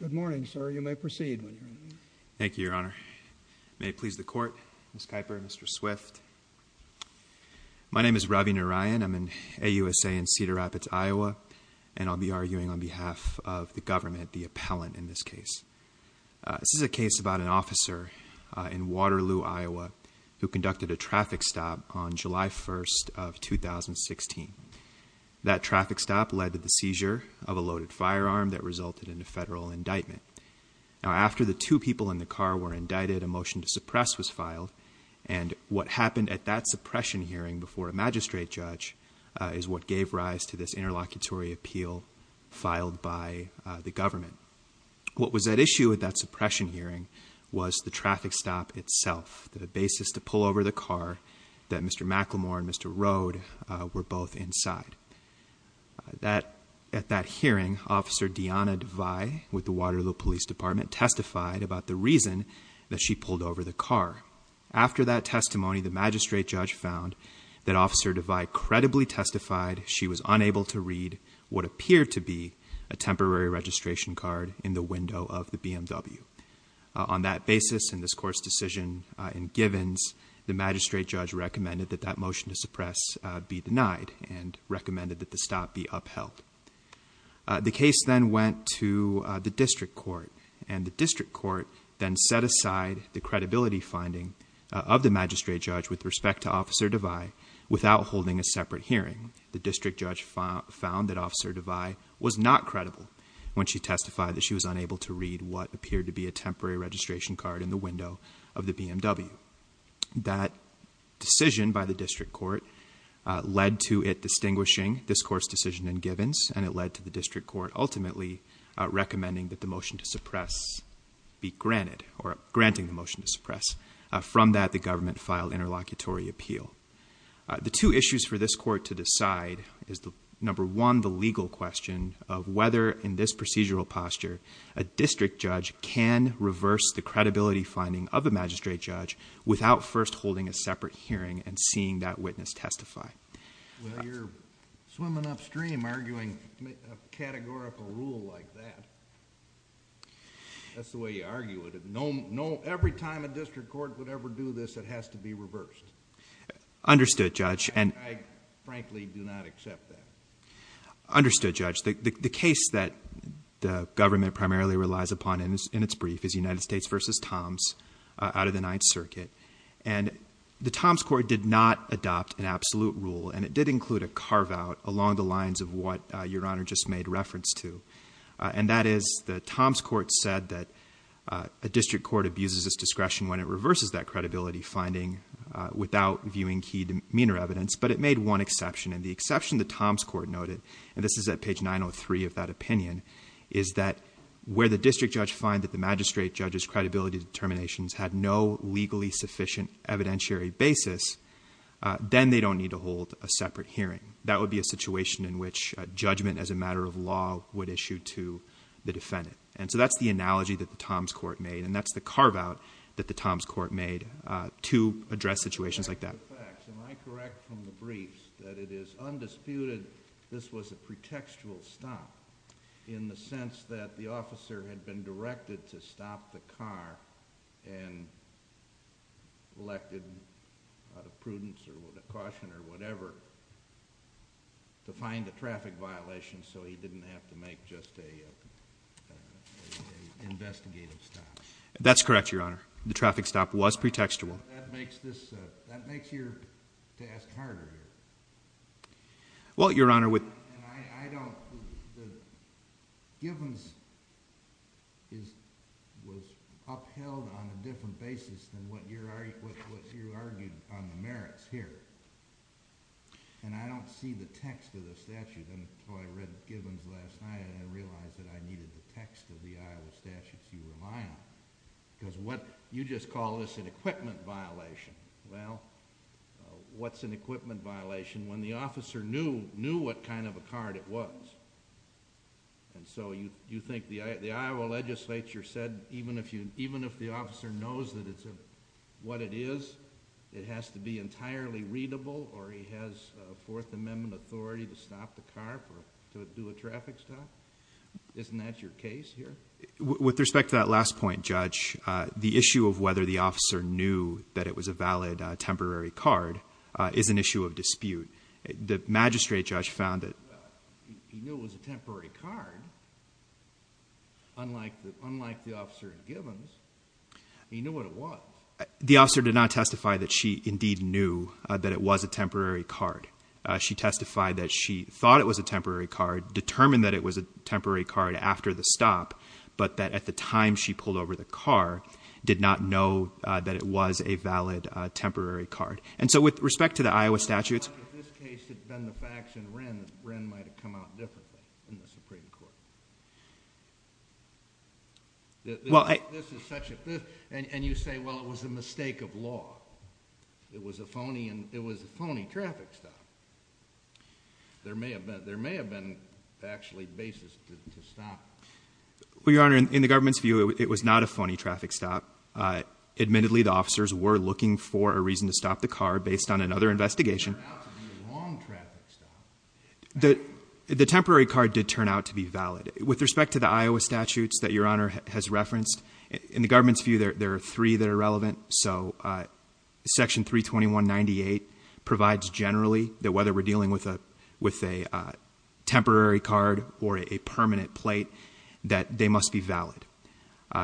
Good morning, sir. You may proceed. Thank you, Your Honor. May it please the Court, Ms. Kuyper, Mr. Swift. My name is Ravi Narayan. I'm in AUSA in Cedar Rapids, Iowa, and I'll be arguing on behalf of the government, the appellant in this case. This is a case about an officer in Waterloo, Iowa, who conducted a traffic stop on July 1st of 2016. That traffic stop led to the seizure of a loaded firearm that resulted in a federal indictment. Now, after the two people in the car were indicted, a motion to suppress was filed, and what happened at that suppression hearing before a magistrate judge is what gave rise to this interlocutory appeal filed by the government. What was at issue at that suppression hearing was the traffic stop itself, the basis to pull over the car that Mr. McLemore and Mr. Rode were both inside. At that hearing, Officer Deanna Devay with the Waterloo Police Department testified about the reason that she pulled over the car. After that testimony, the magistrate judge found that Officer Devay credibly testified she was unable to read what appeared to be a temporary registration card in the window of the BMW. On that basis, in this court's decision in Givens, the magistrate judge recommended that that motion to suppress be denied and recommended that the stop be upheld. The case then went to the district court, and the district court then set aside the credibility finding of the magistrate judge with respect to Officer Devay without holding a separate hearing. The district judge found that Officer Devay was not credible when she testified that she was unable to read what appeared to be a temporary registration card in the window of the BMW. That decision by the district court led to it distinguishing this court's decision in Givens, and it led to the district court ultimately recommending that the motion to suppress be granted, or granting the motion to suppress. From that, the government filed interlocutory appeal. The two issues for this court to decide is, number one, the legal question of whether in this procedural posture a district judge can reverse the credibility finding of the magistrate judge without first holding a separate hearing and seeing that witness testify. Well, you're swimming upstream arguing a categorical rule like that. That's the way you argue it. Every time a district court would ever do this, it has to be reversed. Understood, Judge. I frankly do not accept that. Understood, Judge. The case that the government primarily relies upon in its brief is United States v. Toms out of the Ninth Circuit, and the Toms court did not adopt an absolute rule, and it did include a carve-out along the lines of what Your Honor just made reference to, and that is the Toms court said that a district court abuses its discretion when it reverses that credibility finding without viewing key demeanor evidence, but it made one exception. And the exception the Toms court noted, and this is at page 903 of that opinion, is that where the district judge finds that the magistrate judge's credibility determinations had no evidentiary basis, then they don't need to hold a separate hearing. That would be a situation in which judgment as a matter of law would issue to the defendant. And so that's the analogy that the Toms court made, and that's the carve-out that the Toms court made to address situations like that. Am I correct from the briefs that it is undisputed this was a pretextual stop in the sense that the officer had been directed to stop the car and elected out of prudence or with a caution or whatever to find a traffic violation so he didn't have to make just an investigative stop? That's correct, Your Honor. The traffic stop was pretextual. That makes this, that makes your task harder here. Well, Your Honor, with And I don't, the, Gibbons is, was upheld on a different basis than what you're, what you argued on the merits here. And I don't see the text of the statute until I read Gibbons last night and I realized that I needed the text of the Iowa statutes you rely on. Because what, you just call this an equipment violation. Well, what's an equipment violation when the officer didn't have a card, it was. And so you think the Iowa legislature said even if you, even if the officer knows that it's a, what it is, it has to be entirely readable or he has a Fourth Amendment authority to stop the car to do a traffic stop? Isn't that your case here? With respect to that last point, Judge, the issue of whether the officer knew that it was a valid temporary card is an issue of dispute. The magistrate judge found that. He knew it was a temporary card. Unlike the, unlike the officer in Gibbons, he knew what it was. The officer did not testify that she indeed knew that it was a temporary card. She testified that she thought it was a temporary card, determined that it was a temporary card after the stop, but that at the time she pulled over the car, did not know that it was a valid temporary card. And so with respect to the Iowa statutes. In this case, it had been the facts in Wren that Wren might have come out differently in the Supreme Court. This is such a, and you say, well, it was a mistake of law. It was a phony, it was a phony traffic stop. There may have been, there may have been actually a valid basis to stop. Well, Your Honor, in the government's view, it was not a phony traffic stop. Admittedly, the officers were looking for a reason to stop the car based on another investigation. It turned out to be a wrong traffic stop. The temporary card did turn out to be valid. With respect to the Iowa statutes that Your Honor has referenced, in the government's view, there are three that are relevant. So Section 321.98 provides generally that whether we're dealing with a, with a temporary card or a permanent plate, that they must be valid.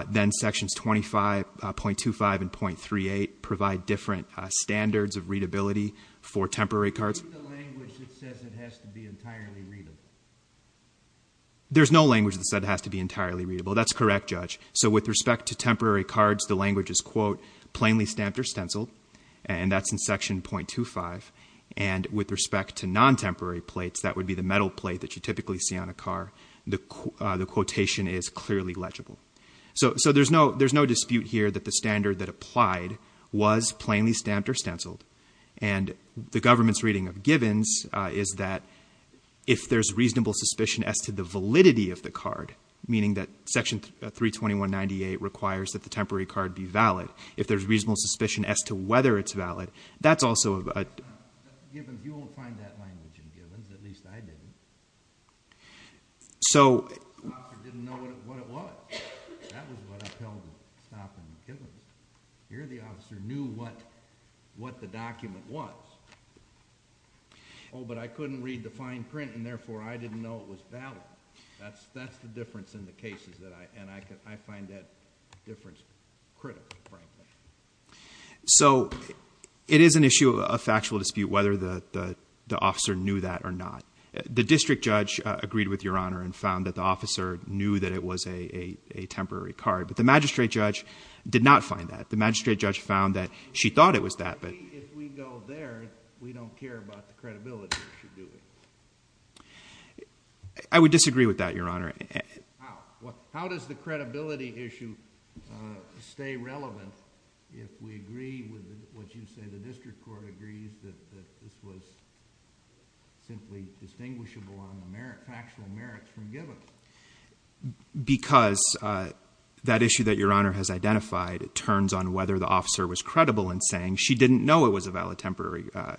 Then sections 25.25 and .38 provide different standards of readability for temporary cards. Read the language that says it has to be entirely readable. There's no language that said it has to be entirely readable. That's correct, Judge. So with respect to temporary cards, the language is, quote, plainly stamped or stenciled, and that's in Section .25. And with respect to non-temporary plates, that would be the metal plate that you typically see on a car, the quotation is clearly legible. So, so there's no, there's no dispute here that the standard that applied was plainly stamped or stenciled. And the government's reading of Gibbons is that if there's reasonable suspicion as to the validity of the card, meaning that Section 321.98 requires that the temporary card be valid, if there's reasonable suspicion as to whether it's valid, that's also a... Gibbons, you won't find that language in Gibbons, at least I didn't. So... The officer didn't know what it was. That was what upheld stopping Gibbons. Here the officer knew what, what the document was. Oh, but I couldn't read the fine print, and therefore I didn't know it was valid. That's, that's the difference in the cases that I, and I could, I find that difference critical, frankly. So, it is an issue of factual dispute whether the, the officer knew that or not. The district judge agreed with Your Honor and found that the officer knew that it was a, a, a temporary card. But the magistrate judge did not find that. The magistrate judge found that she thought it was that, but... We, if we go there, we don't care about the credibility issue, do we? I would disagree with that, Your Honor. How? What, how does the credibility issue stay relevant if we agree with what you say, the district court agrees that, that this was simply distinguishable on the merits, factual merits from Gibbons? Because that issue that Your Honor has identified turns on whether the officer was credible in saying she didn't know it was a valid temporary, a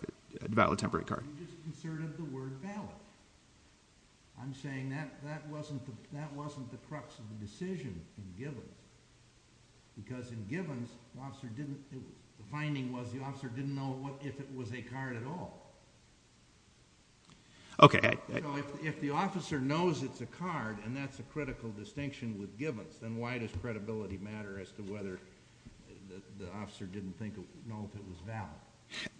valid temporary card. You just inserted the word valid. I'm saying that, that wasn't the, that wasn't the crux of the decision in Gibbons. Because in Gibbons, the officer didn't, the finding was the officer didn't know what, if it was a card at all. Okay. So, if, if the officer knows it's a card, and that's a critical distinction with Gibbons, then why does credibility matter as to whether the officer didn't think, know if it was valid?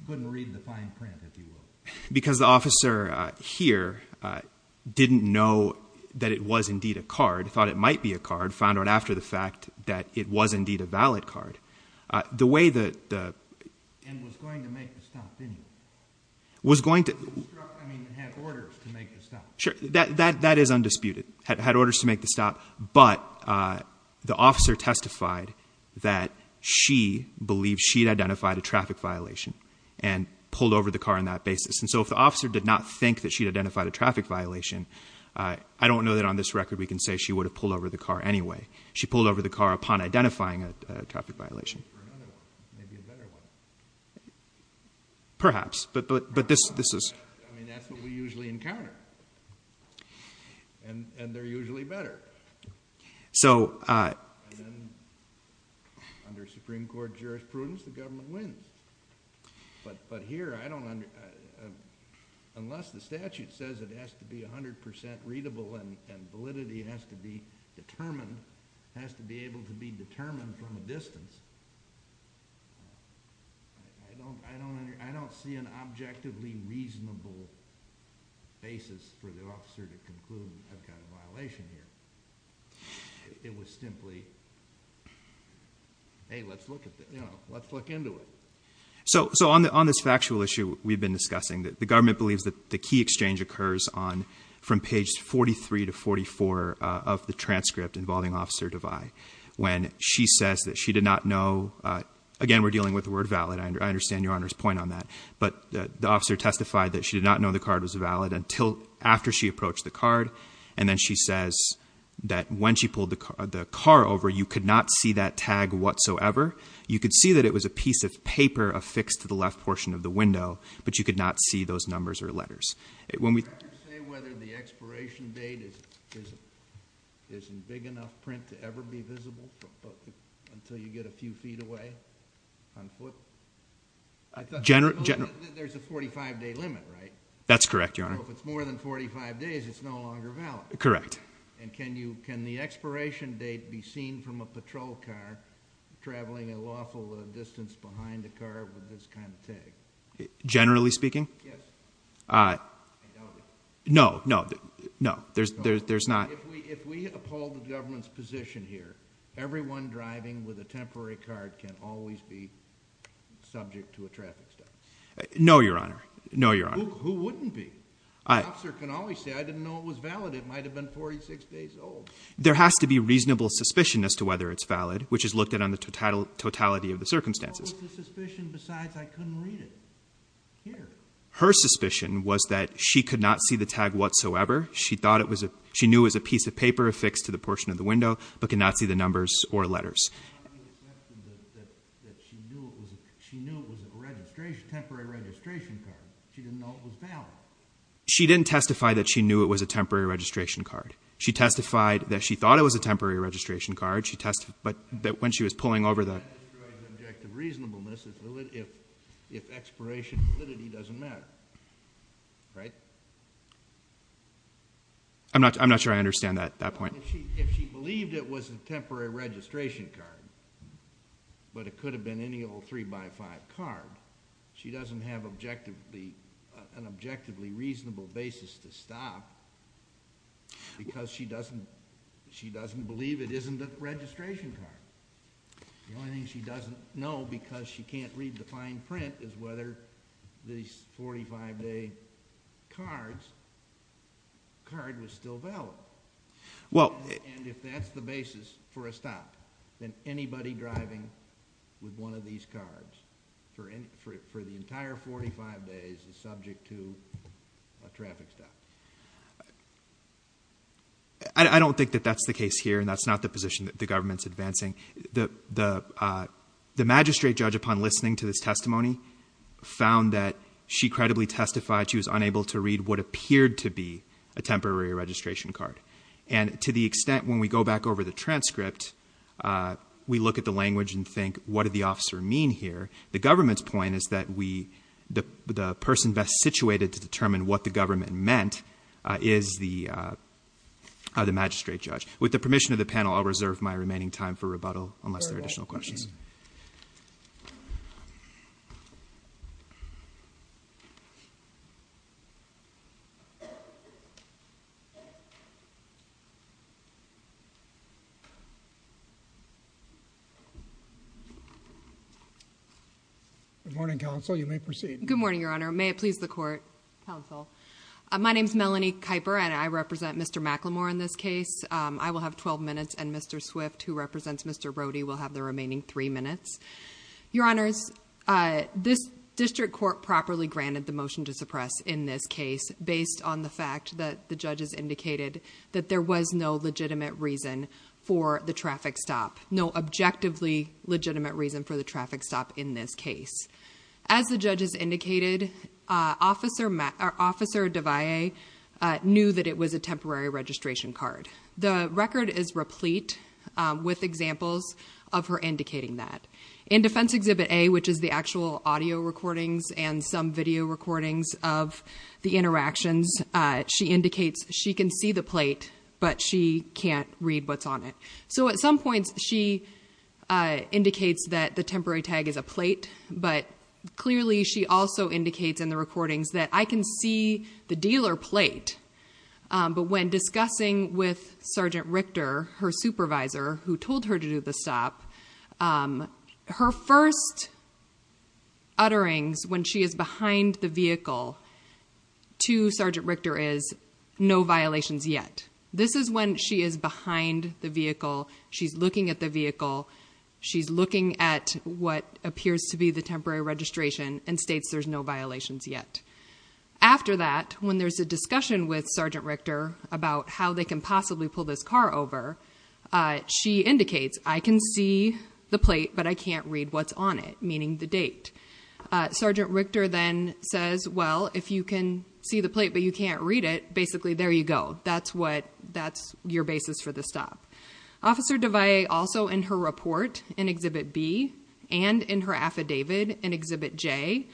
Couldn't read the fine print, if you will. Because the officer here didn't know that it was indeed a card, thought it might be a card, found out after the fact that it was indeed a valid card. The way that the... And was going to make the stop anyway. Was going to... I mean, had orders to make the stop. Sure. That is undisputed. Had orders to make the stop, but the officer testified that she believed she'd identified a traffic violation and pulled over the car on that basis. And so if the officer did not think that she'd identified a traffic violation, I don't know that on this record we can say she would have pulled over the car anyway. She pulled over the car upon identifying a traffic violation. Or another one. Maybe a better one. Perhaps. But this is... I mean, that's what we usually encounter. And they're usually better. So... Under Supreme Court jurisprudence, the government wins. But here, I don't... Unless the statute says it has to be 100% readable and validity has to be determined, has to be able to be determined from a distance, I don't see an objectively reasonable basis for the officer to conclude, I've got a violation here. It was simply, hey, let's look into it. So on this factual issue we've been discussing, the government believes that the key exchange occurs from page 43 to 44 of the transcript involving Officer Devay. When she says that she did not know... Again, we're dealing with the word valid. I understand Your Honor's point on that. But the officer testified that she did not know the card was valid until after she approached the card. And then she says that when she pulled the car over, you could not see that tag whatsoever. You could see that it was a piece of paper affixed to the left portion of the window, but you could not see those numbers or letters. Can you say whether the expiration date isn't big enough print to ever be visible until you get a few feet away on foot? There's a 45-day limit, right? That's correct, Your Honor. So if it's more than 45 days, it's no longer valid? Correct. And can the expiration date be seen from a patrol car traveling a lawful distance behind a car with this kind of tag? Generally speaking? Yes. I doubt it. No, no, no. There's not... If we uphold the government's position here, everyone driving with a temporary card can always be subject to a traffic stop. No, Your Honor. No, Your Honor. Who wouldn't be? The officer can always say, I didn't know it was valid. It might have been 46 days old. There has to be reasonable suspicion as to whether it's valid, which is looked at on the totality of the circumstances. What was the suspicion besides I couldn't read it here? Her suspicion was that she could not see the tag whatsoever. She knew it was a piece of paper affixed to the portion of the window but could not see the numbers or letters. How do you accept that she knew it was a temporary registration card? She didn't know it was valid. She didn't testify that she knew it was a temporary registration card. She testified that she thought it was a temporary registration card. She testified that when she was pulling over the... That destroys objective reasonableness if expiration validity doesn't matter. Right? I'm not sure I understand that point. If she believed it was a temporary registration card but it could have been any old 3x5 card, she doesn't have an objectively reasonable basis to stop because she doesn't believe it isn't a registration card. The only thing she doesn't know because she can't read the fine print is whether these 45-day cards, the card was still valid. And if that's the basis for a stop, then anybody driving with one of these cards for the entire 45 days is subject to a traffic stop. I don't think that that's the case here and that's not the position that the government's advancing. The magistrate judge, upon listening to this testimony, found that she credibly testified she was unable to read what appeared to be a temporary registration card. And to the extent when we go back over the transcript, we look at the language and think, what did the officer mean here? The government's point is that the person best situated to determine what the government meant is the magistrate judge. With the permission of the panel, I'll reserve my remaining time for rebuttal unless there are additional questions. Good morning, counsel. You may proceed. Good morning, Your Honor. May it please the court? Counsel. My name's Melanie Kuiper and I represent Mr. McLemore in this case. I will have 12 minutes and Mr. Swift, who represents Mr. Brody, will have the remaining three minutes. Your Honors, this district court properly granted the motion to suppress in this case based on the fact that the judges indicated that there was no legitimate reason for the traffic stop, no objectively legitimate reason for the traffic stop in this case. As the judges indicated, Officer Devaye knew that it was a temporary registration card. The record is replete with examples of her indicating that. In Defense Exhibit A, which is the actual audio recordings and some video recordings of the interactions, she indicates she can see the plate, but she can't read what's on it. So at some points she indicates that the temporary tag is a plate, but clearly she also indicates in the recordings that I can see the dealer plate. But when discussing with Sergeant Richter, her supervisor, who told her to do the stop, her first utterings when she is behind the vehicle to Sergeant Richter is, no violations yet. This is when she is behind the vehicle, she's looking at the vehicle, she's looking at what appears to be the temporary registration and states there's no violations yet. After that, when there's a discussion with Sergeant Richter about how they can possibly pull this car over, she indicates I can see the plate, but I can't read what's on it, meaning the date. Sergeant Richter then says, well, if you can see the plate, but you can't read it, basically there you go, that's your basis for the stop. Officer Devay also in her report in Exhibit B and in her affidavit in Exhibit J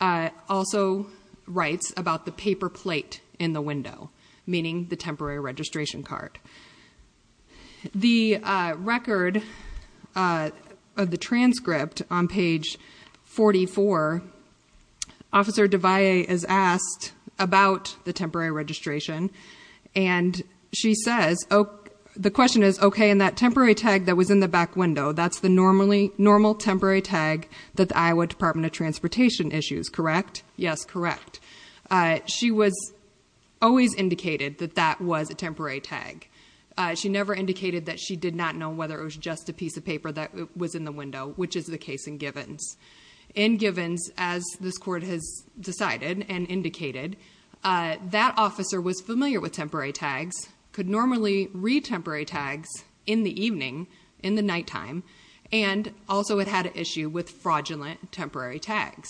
also writes about the paper plate in the window, meaning the temporary registration card. The record of the transcript on page 44, Officer Devay is asked about the temporary registration and she says, the question is, okay, in that temporary tag that was in the back window, that's the normal temporary tag that the Iowa Department of Transportation issues, correct? Yes, correct. She was always indicated that that was a temporary tag. She never indicated that she did not know whether it was just a piece of paper that was in the window, which is the case in Givens. In Givens, as this court has decided and indicated, that officer was familiar with temporary tags, could normally read temporary tags in the evening, in the nighttime, and also had had an issue with fraudulent temporary tags.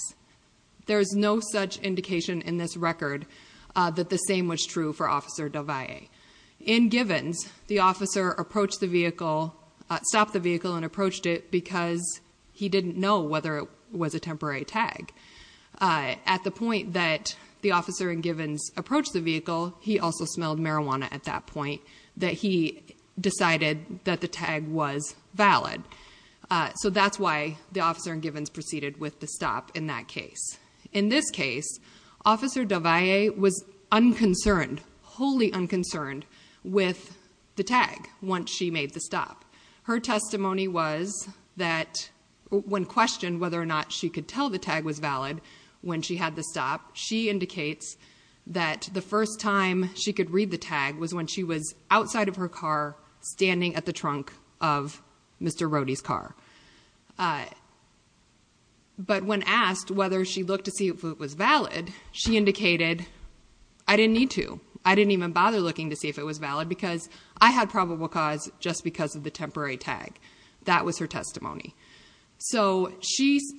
There is no such indication in this record that the same was true for Officer Devay. In Givens, the officer stopped the vehicle and approached it because he didn't know whether it was a temporary tag. At the point that the officer in Givens approached the vehicle, he also smelled marijuana at that point, that he decided that the tag was valid. So that's why the officer in Givens proceeded with the stop in that case. In this case, Officer Devay was unconcerned, wholly unconcerned, with the tag once she made the stop. Her testimony was that when questioned whether or not she could tell the tag was valid when she had the stop, she indicates that the first time she could read the tag was when she was outside of her car, standing at the trunk of Mr. Rohde's car. But when asked whether she looked to see if it was valid, she indicated, I didn't need to. I didn't even bother looking to see if it was valid because I had probable cause just because of the temporary tag. That was her testimony. So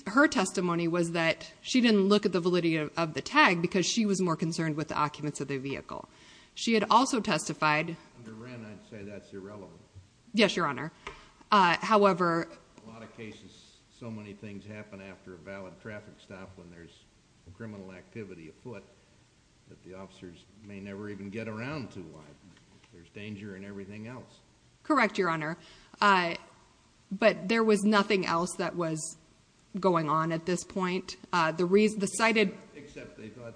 her testimony was that she didn't look at the validity of the tag because she was more concerned with the occupants of the vehicle. She had also testified... Under Wren, I'd say that's irrelevant. Yes, Your Honor. However... In a lot of cases, so many things happen after a valid traffic stop when there's criminal activity afoot that the officers may never even get around to why there's danger and everything else. Correct, Your Honor. But there was nothing else that was going on at this point. The cited... Except they thought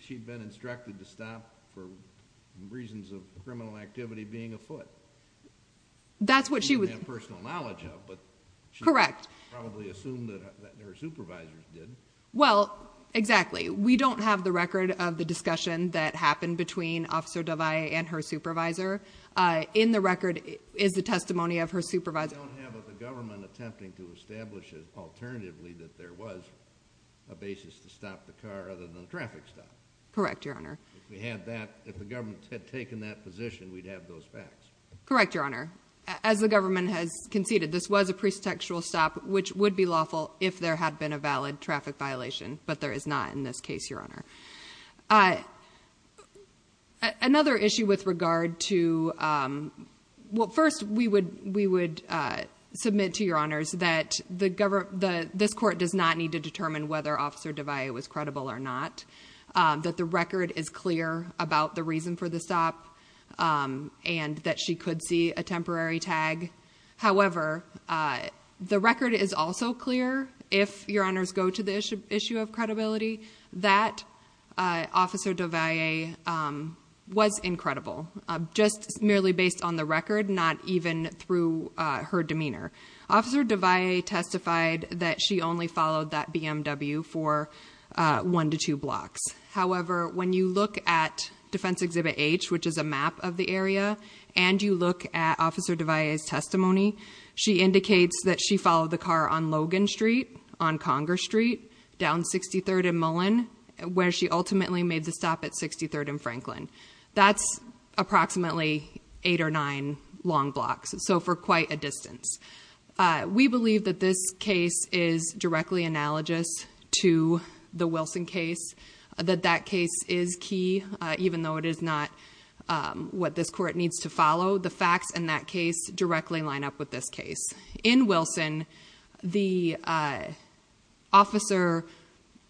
she'd been instructed to stop for reasons of criminal activity being afoot. That's what she was... That's what she had personal knowledge of, but... Correct. She probably assumed that her supervisors did. Well, exactly. We don't have the record of the discussion that happened between Officer Davai and her supervisor. In the record is the testimony of her supervisor. We don't have the government attempting to establish alternatively that there was a basis to stop the car other than a traffic stop. Correct, Your Honor. If we had that, if the government had taken that position, we'd have those facts. Correct, Your Honor. As the government has conceded, this was a presexual stop, which would be lawful if there had been a valid traffic violation, but there is not in this case, Your Honor. Another issue with regard to... Well, first, we would submit to Your Honors that this court does not need to determine whether Officer Davai was credible or not, that the record is clear about the reason for the stop, and that she could see a temporary tag. However, the record is also clear, if Your Honors go to the issue of credibility, that Officer Davai was incredible, just merely based on the record, not even through her demeanor. Officer Davai testified that she only followed that BMW for one to two blocks. However, when you look at Defense Exhibit H, which is a map of the area, and you look at Officer Davai's testimony, she indicates that she followed the car on Logan Street, on Conger Street, down 63rd and Mullen, where she ultimately made the stop at 63rd and Franklin. That's approximately eight or nine long blocks, so for quite a distance. We believe that this case is directly analogous to the Wilson case, that that case is key, even though it is not what this court needs to follow. The facts in that case directly line up with this case. In Wilson, the officer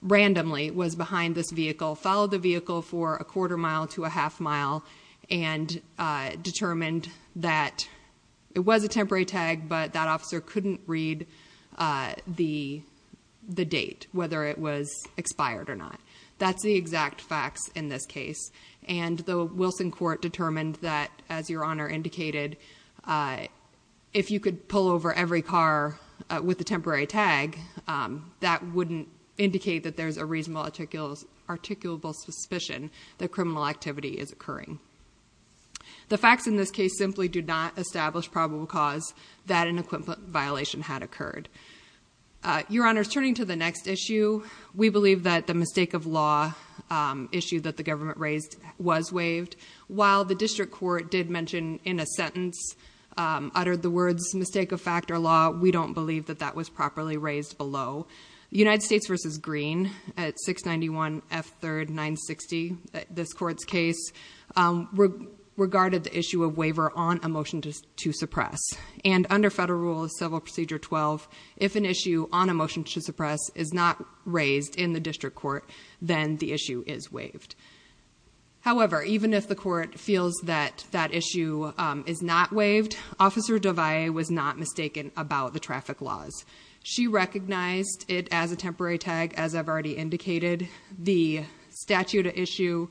randomly was behind this vehicle, followed the vehicle for a quarter mile to a half mile, and determined that it was a temporary tag, but that officer couldn't read the date, whether it was expired or not. That's the exact facts in this case. And the Wilson court determined that, as Your Honor indicated, if you could pull over every car with a temporary tag, that wouldn't indicate that there's a reasonable, articulable suspicion that criminal activity is occurring. The facts in this case simply do not establish probable cause that an equipment violation had occurred. Your Honor, turning to the next issue, we believe that the mistake of law issue that the government raised was waived. While the district court did mention in a sentence, uttered the words mistake of fact or law, we don't believe that that was properly raised below. United States v. Green at 691 F. 3rd 960, this court's case, regarded the issue of waiver on a motion to suppress. And under Federal Rule of Civil Procedure 12, if an issue on a motion to suppress is not raised in the district court, then the issue is waived. However, even if the court feels that that issue is not waived, Officer Devay was not mistaken about the traffic laws. She recognized it as a temporary tag, as I've already indicated. The statute issue,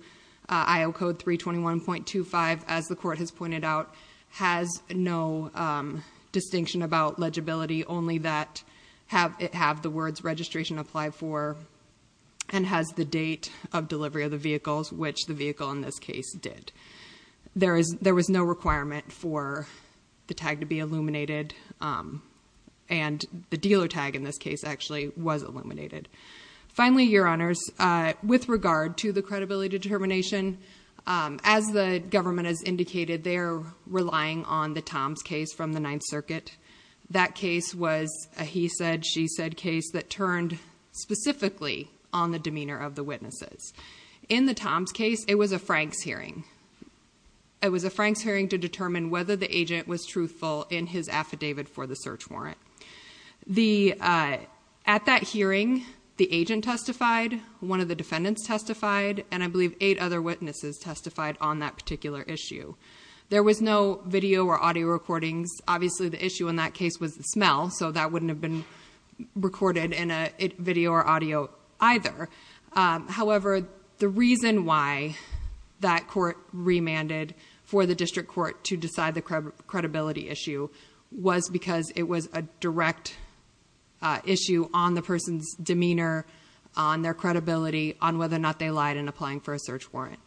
IO Code 321.25, as the court has pointed out, has no distinction about legibility, only that it have the words registration applied for. And has the date of delivery of the vehicles, which the vehicle in this case did. There was no requirement for the tag to be illuminated. And the dealer tag in this case actually was illuminated. Finally, your honors, with regard to the credibility determination, as the government has indicated, they're relying on the Tom's case from the Ninth Circuit. That case was a he said, she said case that turned specifically on the demeanor of the witnesses. In the Tom's case, it was a Frank's hearing. It was a Frank's hearing to determine whether the agent was truthful in his affidavit for the search warrant. At that hearing, the agent testified, one of the defendants testified, and I believe eight other witnesses testified on that particular issue. There was no video or audio recordings. Obviously, the issue in that case was the smell, so that wouldn't have been recorded in a video or audio either. However, the reason why that court remanded for the district court to decide the credibility issue was because it was a direct issue on the person's demeanor, on their credibility, on whether or not they lied in applying for a search warrant.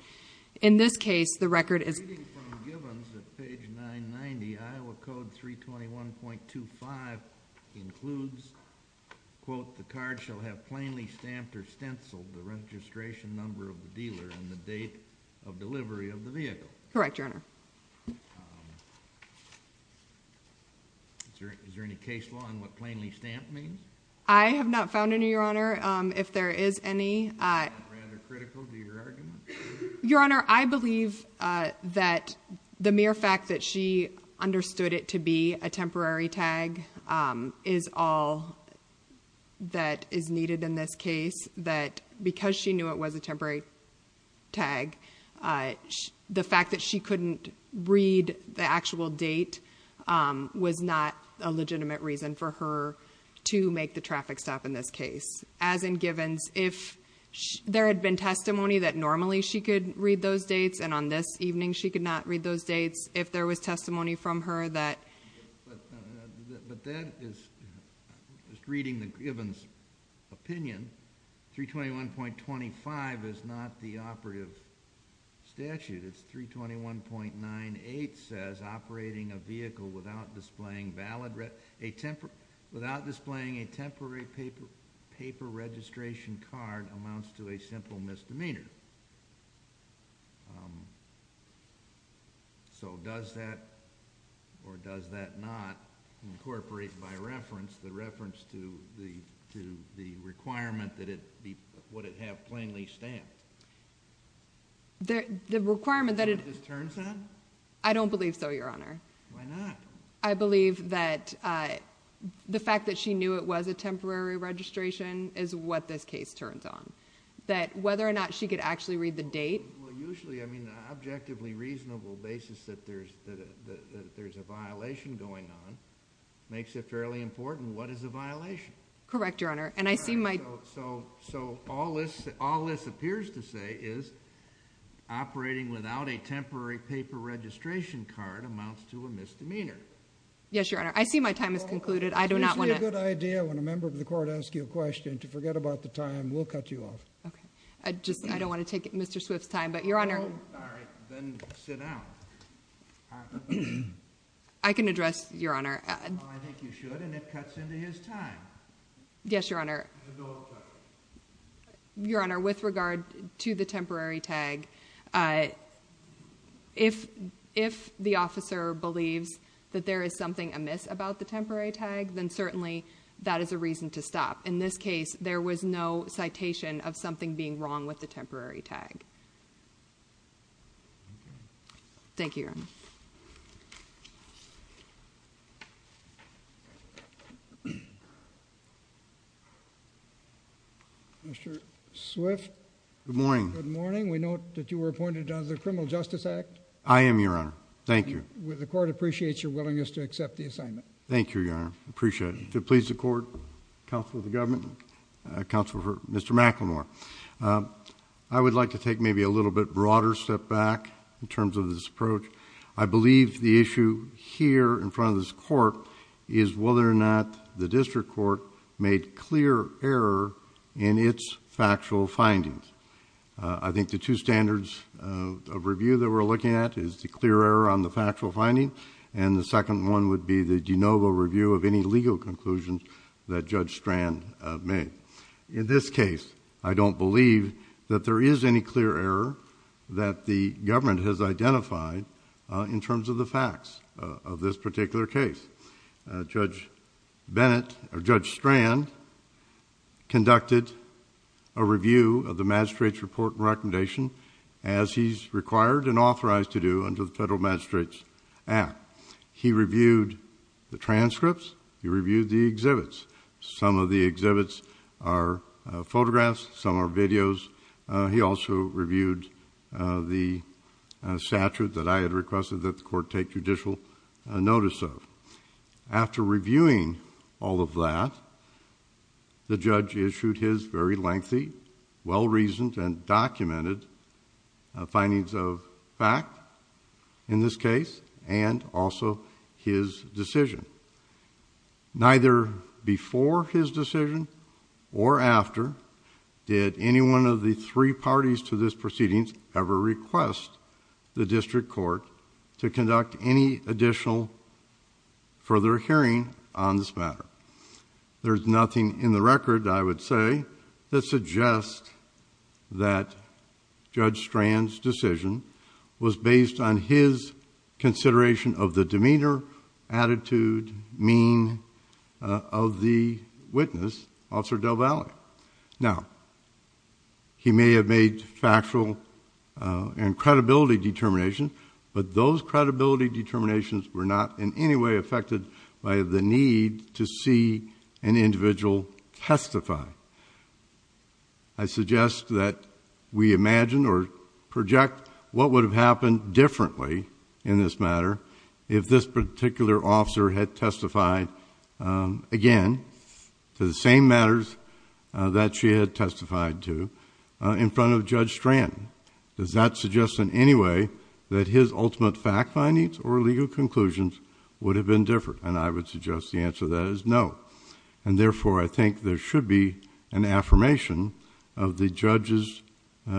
In this case, the record is- Reading from Givens at page 990, Iowa Code 321.25 includes, quote, the card shall have plainly stamped or stenciled the registration number of the dealer and the date of delivery of the vehicle. Correct, your honor. Is there any case law on what plainly stamped means? I have not found any, your honor. If there is any- Rather critical to your argument? Your honor, I believe that the mere fact that she understood it to be a temporary tag is all that is needed in this case. That because she knew it was a temporary tag, the fact that she couldn't read the actual date was not a legitimate reason for her to make the traffic stop in this case. As in Givens, if there had been testimony that normally she could read those dates, and on this evening she could not read those dates, if there was testimony from her that- But that is, just reading the Givens opinion, 321.25 is not the operative statute. It's 321.98 says operating a vehicle without displaying a temporary paper registration card amounts to a simple misdemeanor. So does that, or does that not incorporate by reference, the reference to the requirement that it would have plainly stamped? The requirement that it- Is that what this turns on? I don't believe so, your honor. Why not? I believe that the fact that she knew it was a temporary registration is what this case turns on. That whether or not she could actually read the date- Well, usually, I mean, the objectively reasonable basis that there's a violation going on makes it fairly important what is a violation. Correct, your honor. And I see my- So, all this appears to say is operating without a temporary paper registration card amounts to a misdemeanor. Yes, your honor. I see my time has concluded. I do not want to- I don't want to take Mr. Swift's time, but your honor- Oh, all right. Then sit down. I can address, your honor- Oh, I think you should, and it cuts into his time. Yes, your honor. Your honor, with regard to the temporary tag, if the officer believes that there is something amiss about the temporary tag, then certainly that is a reason to stop. In this case, there was no citation of something being wrong with the temporary tag. Thank you, your honor. Mr. Swift. Good morning. Good morning. We note that you were appointed under the Criminal Justice Act. I am, your honor. Thank you. The court appreciates your willingness to accept the assignment. Thank you, your honor. Appreciate it. I would like to please the court, counsel of the government, counsel for Mr. McLemore. I would like to take maybe a little bit broader step back in terms of this approach. I believe the issue here in front of this court is whether or not the district court made clear error in its factual findings. I think the two standards of review that we're looking at is the clear error on the factual finding and the second one would be the de novo review of any legal conclusions that Judge Strand made. In this case, I don't believe that there is any clear error that the government has identified in terms of the facts of this particular case. Judge Strand conducted a review of the magistrate's report and recommendation as he's required and authorized to do under the Federal Magistrate's Act. He reviewed the transcripts. He reviewed the exhibits. Some of the exhibits are photographs. Some are videos. He also reviewed the statute that I had requested that the court take judicial notice of. After reviewing all of that, the judge issued his very lengthy, well-reasoned, and documented findings of fact in this case and also his decision. Neither before his decision or after did any one of the three parties to this proceedings ever request the district court to conduct any additional further hearing on this matter. There's nothing in the record, I would say, that suggests that Judge Strand's decision was based on his consideration of the demeanor, attitude, mean of the witness, Officer Del Valle. Now, he may have made factual and credibility determinations, but those credibility determinations were not in any way affected by the need to see an individual testify. I suggest that we imagine or project what would have happened differently in this matter if this particular officer had testified, again, to the same matters that she had testified to in front of Judge Strand. Does that suggest in any way that his ultimate fact findings or legal conclusions would have been different? And I would suggest the answer to that is no. And therefore, I think there should be an affirmation of the judge's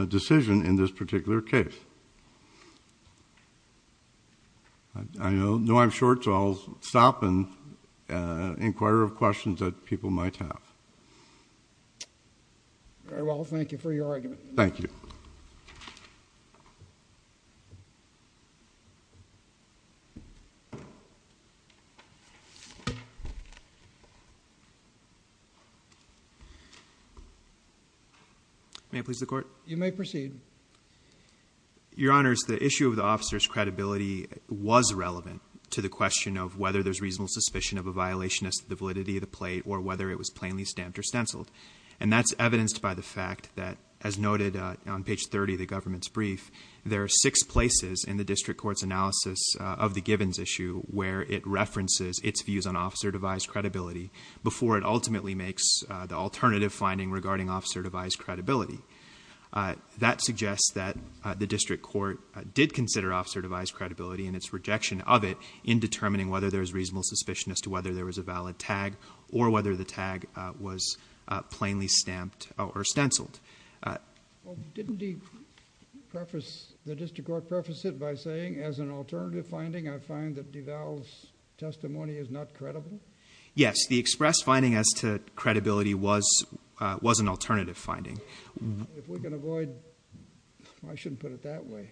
decision in this particular case. I know I'm short, so I'll stop and inquire of questions that people might have. Very well. Thank you for your argument. Thank you. May I please the Court? You may proceed. Your Honors, the issue of the officer's credibility was relevant to the question of whether there's reasonable suspicion of a violation as to the validity of the plate or whether it was plainly stamped or stenciled. And that's evidenced by the fact that, as noted on page 30 of the government's brief, there are six places in the district court's analysis of the Givens issue where it references its views on officer-devised credibility before it ultimately makes the alternative finding regarding officer-devised credibility. That suggests that the district court did consider officer-devised credibility and its rejection of it in determining whether there's reasonable suspicion as to whether there was a valid tag or whether the tag was plainly stamped or stenciled. Didn't the district court preface it by saying, as an alternative finding, I find that Duval's testimony is not credible? Yes. The express finding as to credibility was an alternative finding. If we can avoid—I shouldn't put it that way.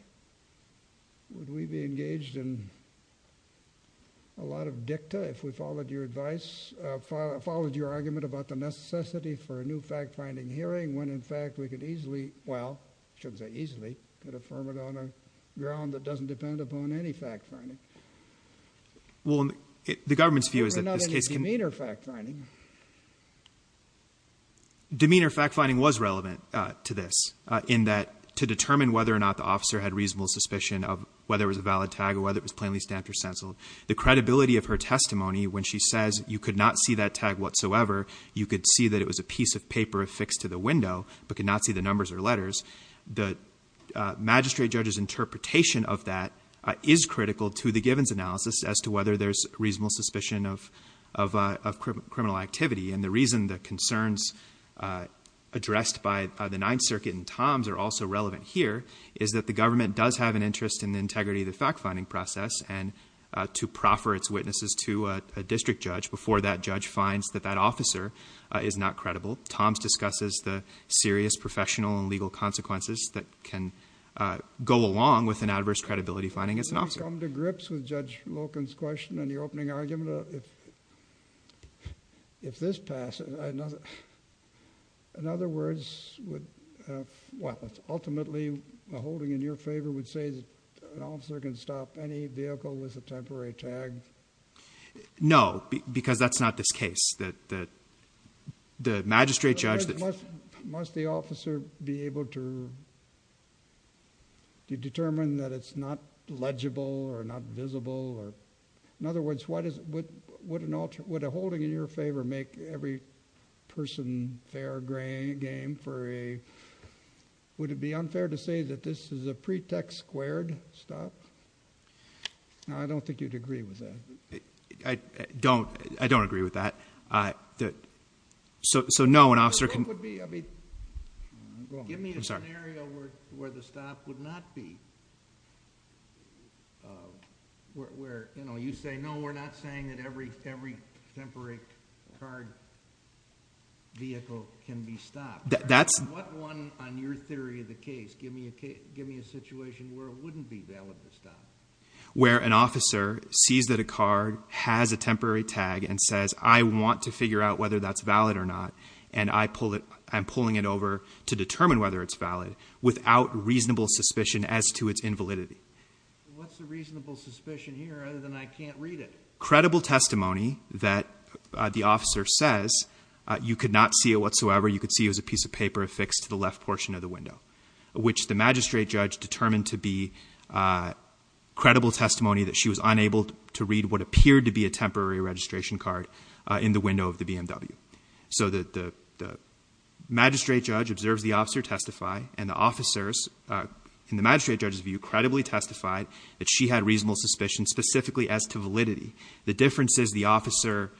Would we be engaged in a lot of dicta if we followed your advice, followed your argument about the necessity for a new fact-finding hearing when, in fact, we could easily—well, I shouldn't say easily, could affirm it on a ground that doesn't depend upon any fact-finding? Well, the government's view is that this case can— But not any demeanor fact-finding. Demeanor fact-finding was relevant to this in that, to determine whether or not the officer had reasonable suspicion of whether it was a valid tag or whether it was plainly stamped or stenciled. The credibility of her testimony when she says you could not see that tag whatsoever, you could see that it was a piece of paper affixed to the window but could not see the numbers or letters, the magistrate judge's interpretation of that is critical to the Givens analysis as to whether there's reasonable suspicion of criminal activity. And the reason the concerns addressed by the Ninth Circuit and Tom's are also relevant here is that the government does have an interest in the integrity of the fact-finding process and to proffer its witnesses to a district judge before that judge finds that that officer is not credible. Tom's discusses the serious professional and legal consequences that can go along with an adverse credibility finding as an officer. I've come to grips with Judge Loken's question in the opening argument. If this passes, in other words, ultimately, a holding in your favor would say that an officer can stop any vehicle with a temporary tag? No, because that's not this case. The magistrate judge... Must the officer be able to determine that it's not legible or not visible? In other words, would a holding in your favor make every person fair game for a... Would it be unfair to say that this is a pretext squared stop? I don't think you'd agree with that. I don't agree with that. So, no, an officer can... Give me a scenario where the stop would not be. Where you say, no, we're not saying that every temporary car vehicle can be stopped. That's... What one on your theory of the case? Give me a situation where it wouldn't be valid to stop. Where an officer sees that a car has a temporary tag and says, I want to figure out whether that's valid or not. And I pull it. I'm pulling it over to determine whether it's valid without reasonable suspicion as to its invalidity. What's the reasonable suspicion here other than I can't read it? Credible testimony that the officer says you could not see it whatsoever. You could see it was a piece of paper affixed to the left portion of the window, which the magistrate judge determined to be credible testimony that she was unable to read what appeared to be a temporary registration card in the window of the BMW. So the magistrate judge observes the officer testify, and the officers, in the magistrate judge's view, credibly testified that she had reasonable suspicion specifically as to validity. The difference is the officer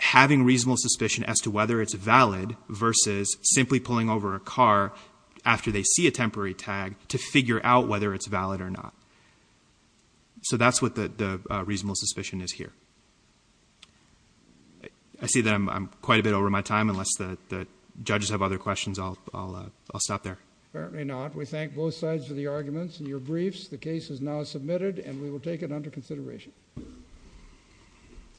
having reasonable suspicion as to whether it's valid versus simply pulling over a car after they see a temporary tag to figure out whether it's valid or not. So that's what the reasonable suspicion is here. I see that I'm quite a bit over my time. Unless the judges have other questions, I'll stop there. Apparently not. We thank both sides for the arguments in your briefs. The case is now submitted, and we will take it under consideration.